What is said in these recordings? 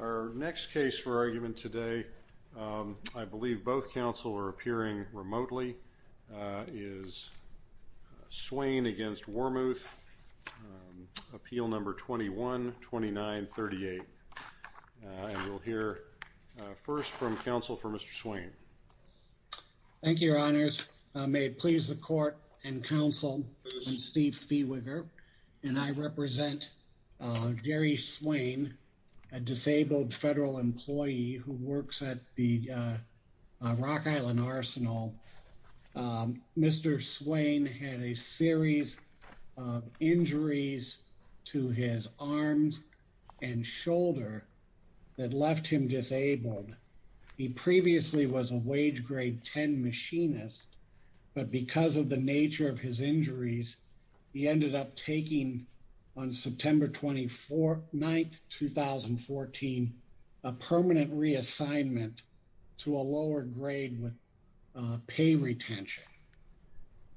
Our next case for argument today, I believe both counsel are appearing remotely, is Swain v. Wormuth, Appeal No. 21-2938, and we'll hear first from counsel for Mr. Swain. Judge, may it please the court and counsel, I'm Steve Fehwiger, and I represent Gary Swain, a disabled federal employee who works at the Rock Island Arsenal. Mr. Swain had a series of injuries to his arms and shoulder that left him disabled. He previously was a wage grade 10 machinist, but because of the nature of his injuries, he ended up taking on September 24, 9, 2014, a permanent reassignment to a lower grade with pay retention.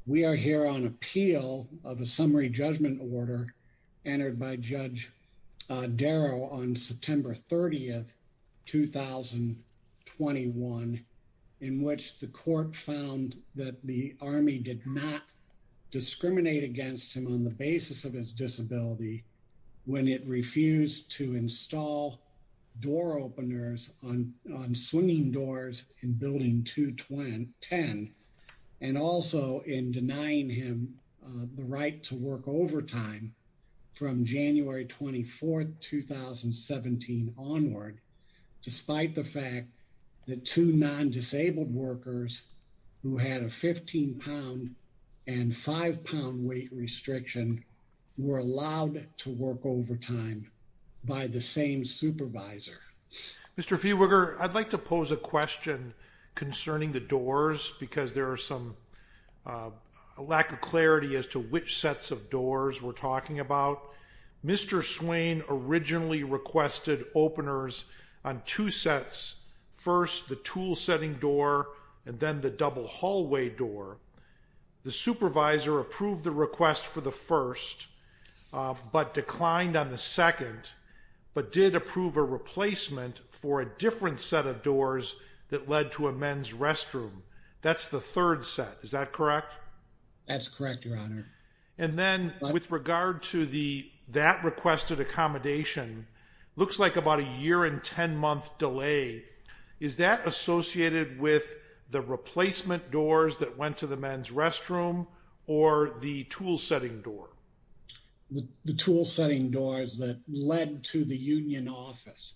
We are here on appeal of a summary judgment order entered by Judge Darrow on September 30, 2021, in which the court found that the army did not discriminate against him on the basis of his disability when it refused to install door and also in denying him the right to work overtime from January 24, 2017 onward, despite the fact that two non-disabled workers who had a 15 pound and five pound weight restriction were allowed to work overtime by the same supervisor. Mr. Fehwiger, I'd like to pose a question concerning the doors because there are some lack of clarity as to which sets of doors we're talking about. Mr. Swain originally requested openers on two sets, first the tool setting door and then the double hallway door. The supervisor approved the request for the first, but declined on the second, but did approve a replacement for a different set of doors that led to a men's restroom. That's the third set. Is that correct? That's correct, your honor. And then with regard to that requested accommodation, looks like about a year and 10 month delay. Is that associated with the replacement doors that went to the men's restroom or the tool setting door? The tool setting doors that led to the union office.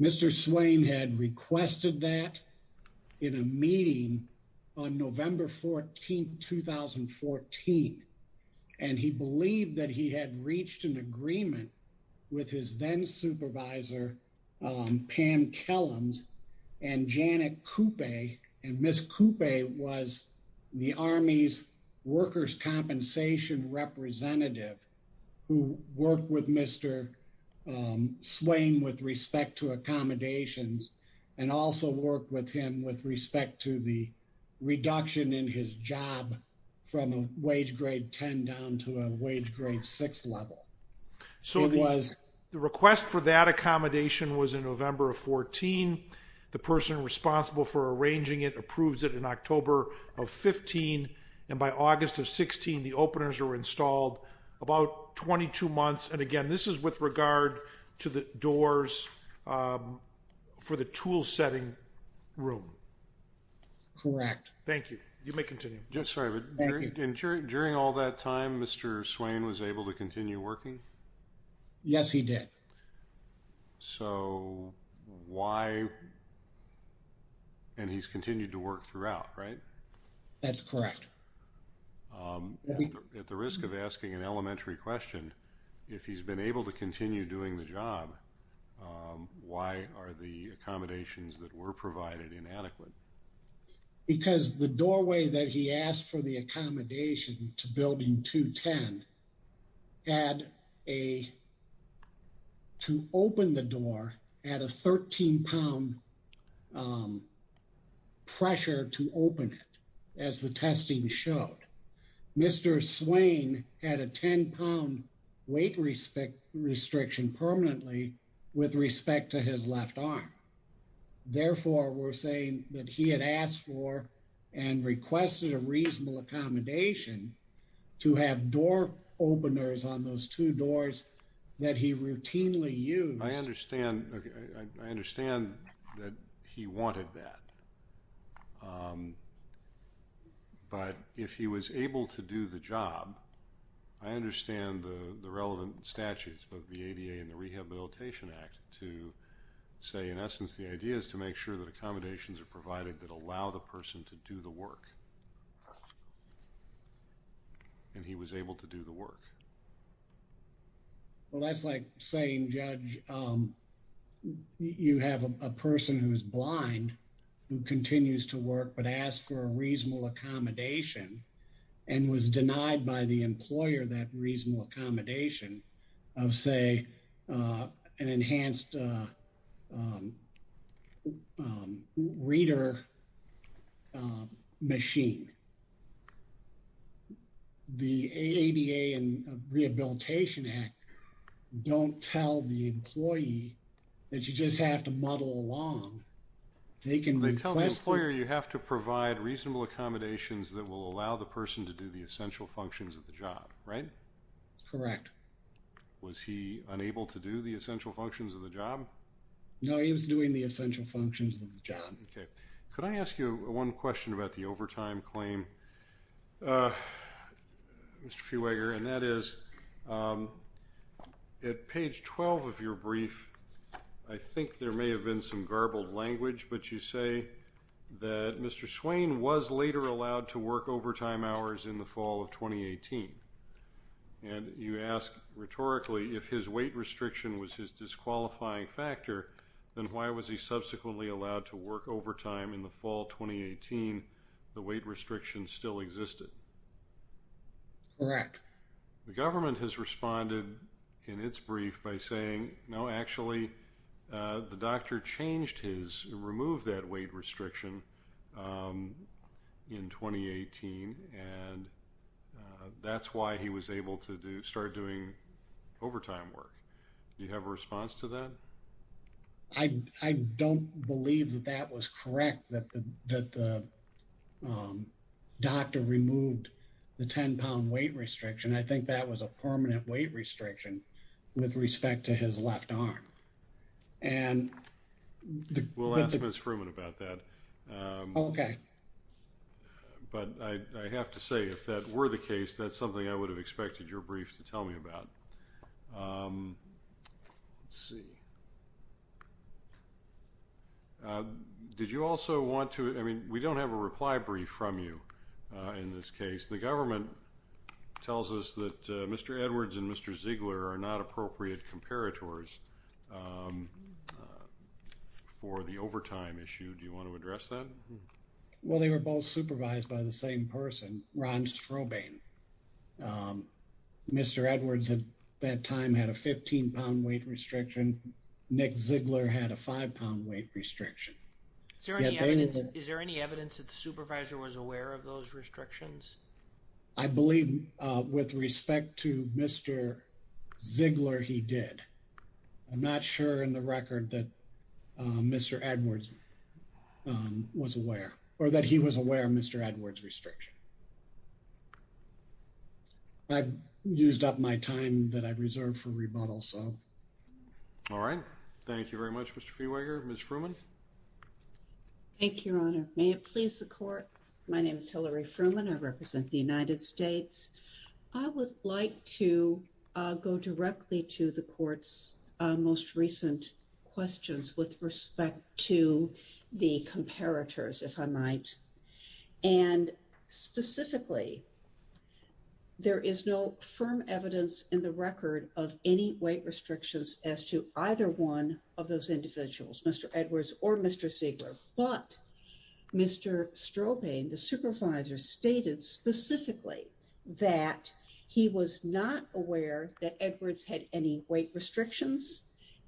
Mr. Swain had requested that in a meeting on November 14, 2014. And he believed that he had reached an agreement with his then supervisor, Pam Kellams and Janet Coupe. And Ms. Coupe was the Army's workers' compensation representative who worked with Mr. Swain with respect to accommodations and also worked with him with respect to the reduction in his job from a wage grade 10 down to a wage grade six level. So the request for that accommodation was in November of 14. The person responsible for arranging it approves it in October of 15. And by August of 16, the openers were installed about 22 months. And again, this is with regard to the doors for the tool setting room. Correct. Thank you. You may continue. During all that time, Mr. Swain was able to continue working? Yes, he did. So why? And he's continued to work throughout, right? That's correct. At the risk of asking an elementary question, if he's been able to continue doing the job, why are the accommodations that were provided inadequate? Because the doorway that he asked for the accommodation to building 210 had a, to open the door at a 13 pound pressure to open it. As the testing showed, Mr. Swain had a 10 pound weight restriction permanently with respect to his left arm. Therefore, we're saying that he had asked for and requested a reasonable accommodation to have door openers on those two doors that he routinely used. I understand that he wanted that. But if he was able to do the job, I understand the relevant statutes, both the ADA and the Rehabilitation Act to say, in essence, the idea is to make sure that accommodations are provided that allow the person to do the work. And he was able to do the work. Well, that's like saying, Judge, um, you have a person who is blind, who continues to work, but asked for a reasonable accommodation and was denied by the employer that reasonable accommodation of say, uh, an enhanced, uh, um, um, reader, um, machine. The ADA and Rehabilitation Act don't tell the employee that you just have to muddle along. They can, they tell the employer, you have to provide reasonable accommodations that will allow the person to do the essential functions of the job, right? Correct. Was he unable to do the essential functions of the job? No, he was doing the essential functions of the job. Okay. Could I ask you one question about the overtime claim, uh, Mr. Feweger, and that is, um, at page 12 of your brief, I think there may have been some garbled language, but you say that Mr. Swain was later allowed to work overtime hours in the fall of 2018. And you ask rhetorically, if his weight restriction was his disqualifying factor, then why was he subsequently allowed to work overtime in the fall of 2018, the weight restriction still existed? Correct. The government has responded in its brief by saying, no, actually, uh, the doctor changed his, removed that weight restriction, um, in 2018, and, uh, that's why he was able to do, start doing overtime work. Do you have a response to that? I, I don't believe that that was correct. That the, that the, um, doctor removed the 10 pound weight restriction. I think that was a permanent weight restriction with respect to his left arm. And. We'll ask Ms. Fruman about that. Okay. But I have to say, if that were the case, that's something I would have expected your brief to tell me about. Um, let's see. Did you also want to, I mean, we don't have a reply brief from you in this case. The government tells us that Mr. Edwards and Mr. Ziegler are not appropriate comparators, um, for the overtime issue. Do you want to address that? Well, they were both supervised by the same person, Ron Strobane. Um, Mr. Edwards at that time had a 15 pound weight restriction. Nick Ziegler had a five pound weight restriction. Is there any evidence that the supervisor was aware of those restrictions? I believe, uh, with respect to Mr. Ziegler, he did. I'm not sure in the record that, uh, Mr. Edwards, um, was aware or that he was aware of Mr. Edwards' restriction. I've used up my time that I've reserved for rebuttal, so. All right. Thank you very much, Mr. Friweger. Ms. Fruman. Thank you, Your Honor. May it please the court. My name is Hillary Fruman. I represent the United States. I would like to, uh, go directly to the court's, uh, most recent questions with respect to the comparators, if I might. And specifically, there is no firm evidence in the record of any weight restrictions as to either one of those individuals, Mr. Edwards or Mr. Ziegler. But Mr. Strobane, the supervisor, stated specifically that he was not aware that Edwards had any weight restrictions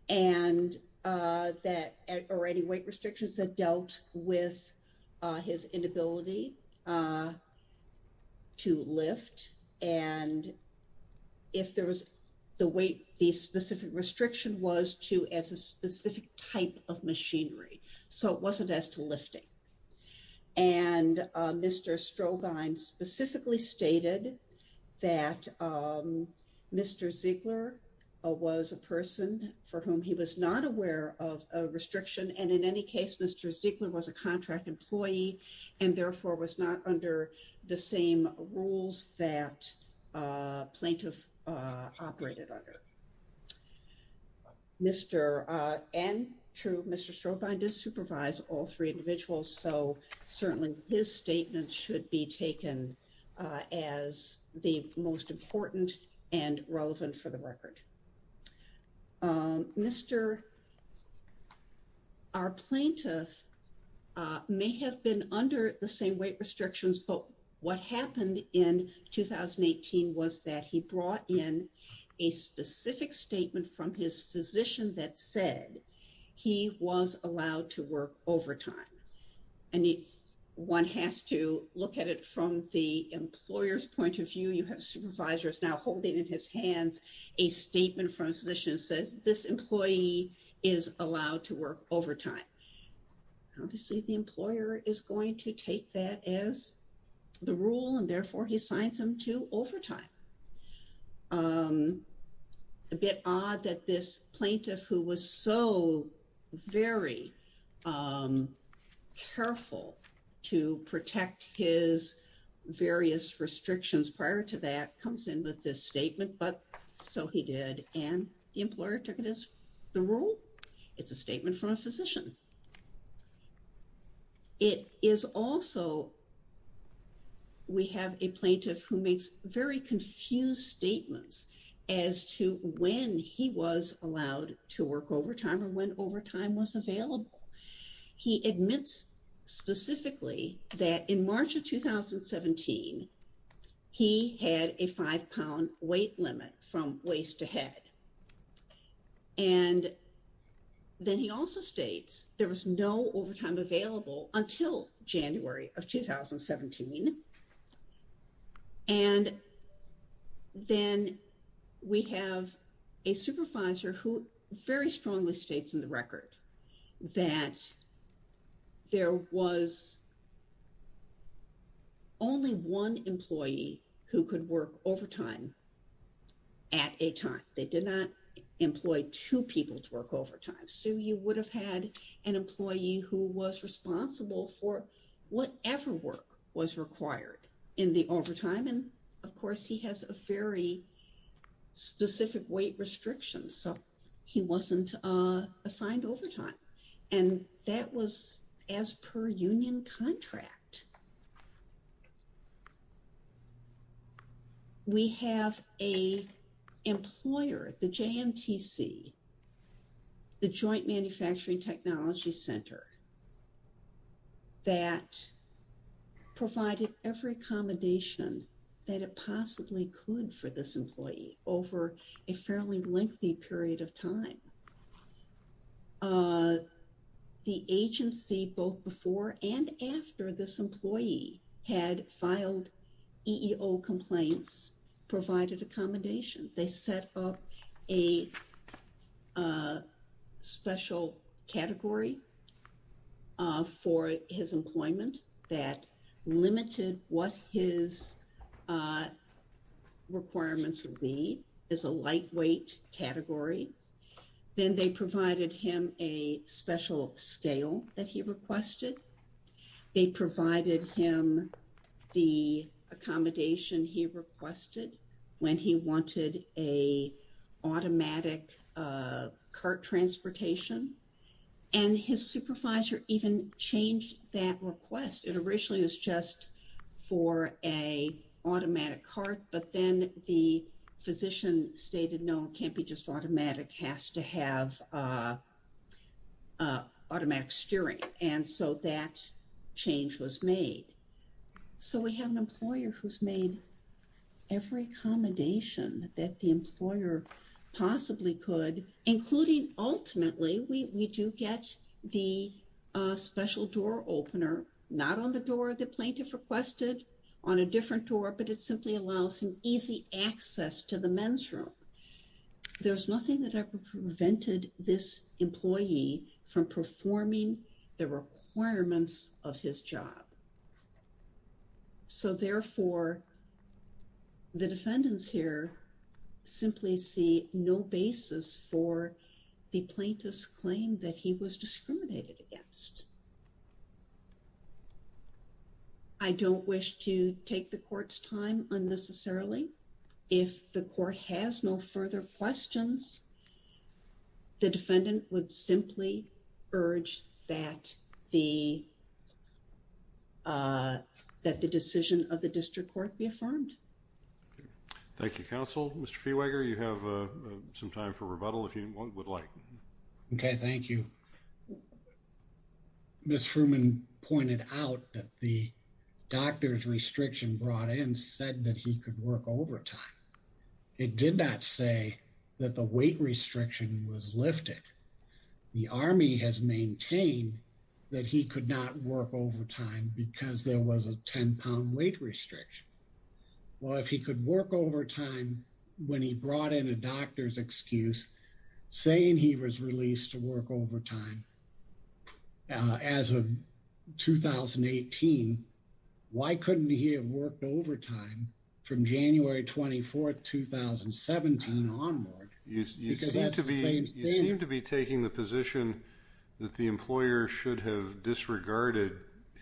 and, uh, that, or any weight restrictions that dealt with, uh, his inability, uh, to lift. And if there was the weight, the specific restriction was to, as a specific type of machinery, so it wasn't as to lifting. And, uh, Mr. Strobane specifically stated that, um, Mr. Ziegler, uh, was a person for whom he was not aware of a restriction. And in any case, Mr. Ziegler was a contract employee and therefore was not under the same rules that, uh, plaintiff, uh, operated under. Mr., uh, and true, Mr. Strobane did supervise all three individuals, so certainly his statement should be taken, uh, as the most important and relevant for the record. Um, Mr., our plaintiff, uh, may have been under the same weight restrictions, but what happened in 2018 was that he brought in a specific statement from his physician that said he was allowed to work overtime. And if one has to look at it from the employer's point of view, you have supervisors now holding in his hands a statement from a physician that says this employee is allowed to work overtime. Obviously, the employer is going to take that as the rule and therefore he assigns him to overtime. Um, a bit odd that this plaintiff who was so very, um, careful to protect his various restrictions prior to that comes in with this statement, but so he did and the employer took it as the rule. It's a statement from a physician. It is also, we have a plaintiff who makes very confused statements as to when he was allowed to work overtime or when overtime was available. He admits specifically that in March of 2017, he had a five pound weight limit from waist to head. And then he also states there was no overtime available until January of 2017. And then we have a supervisor who very strongly states in the record that there was only one employee who could work overtime at a time. They did not employ two people to work overtime, so you would have had an employee who was responsible for whatever work was required in the overtime. And of course, he has a very specific weight restriction, so he wasn't assigned overtime. And that was as per union contract. We have a employer, the JMTC, the Joint Manufacturing Technology Center, that provided every accommodation that it possibly could for this employee over a fairly lengthy period of time. The agency, both before and after this employee had filed EEO complaints, provided accommodation. They set up a special category for his employment that limited what his requirements would be. It's a lightweight category. Then they provided him a special scale that he requested. They provided him the accommodation he requested when he wanted an automatic cart transportation. And his supervisor even changed that request. It originally was just for an automatic cart, but then the physician stated, no, it can't be just automatic, it has to have automatic steering. And so that change was made. So we have an employer who's made every accommodation that the employer possibly could, including, ultimately, we do get the special door opener. Not on the door the plaintiff requested, on a different door, but it simply allows him easy access to the men's room. There's nothing that ever prevented this employee from performing the requirements of his job. So therefore, the defendants here simply see no basis for the plaintiff's claim that he was discriminated against. I don't wish to take the court's time unnecessarily. If the court has no further questions, the defendant would simply urge that the decision of the district court be affirmed. Thank you, counsel. Mr. Feweger, you have some time for rebuttal if you would like. OK, thank you. Ms. Fruman pointed out that the doctor's restriction brought in said that he could work overtime. It did not say that the weight restriction was lifted. The Army has maintained that he could not work overtime because there was a 10-pound weight restriction. Well, if he could work overtime when he brought in a doctor's excuse saying he was released to work overtime as of 2018, why couldn't he have worked overtime from January 24th, 2017 onward? You seem to be taking the position that the employer should have disregarded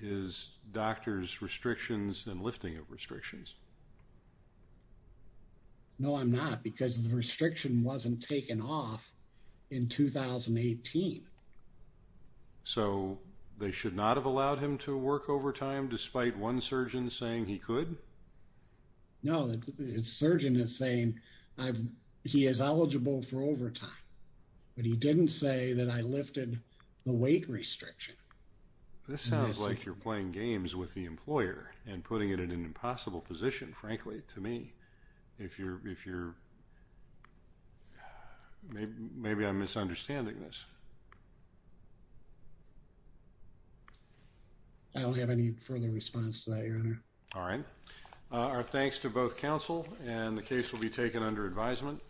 his doctor's restrictions and lifting of restrictions. No, I'm not, because the restriction wasn't taken off in 2018. So they should not have allowed him to work overtime despite one surgeon saying he could? No, the surgeon is saying he is eligible for overtime, but he didn't say that I lifted the weight restriction. This sounds like you're playing games with the employer and putting it in an impossible position, frankly, to me. If you're... maybe I'm misunderstanding this. I don't have any further response to that, Your Honor. All right. Our thanks to both counsel, and the case will be taken under advisement.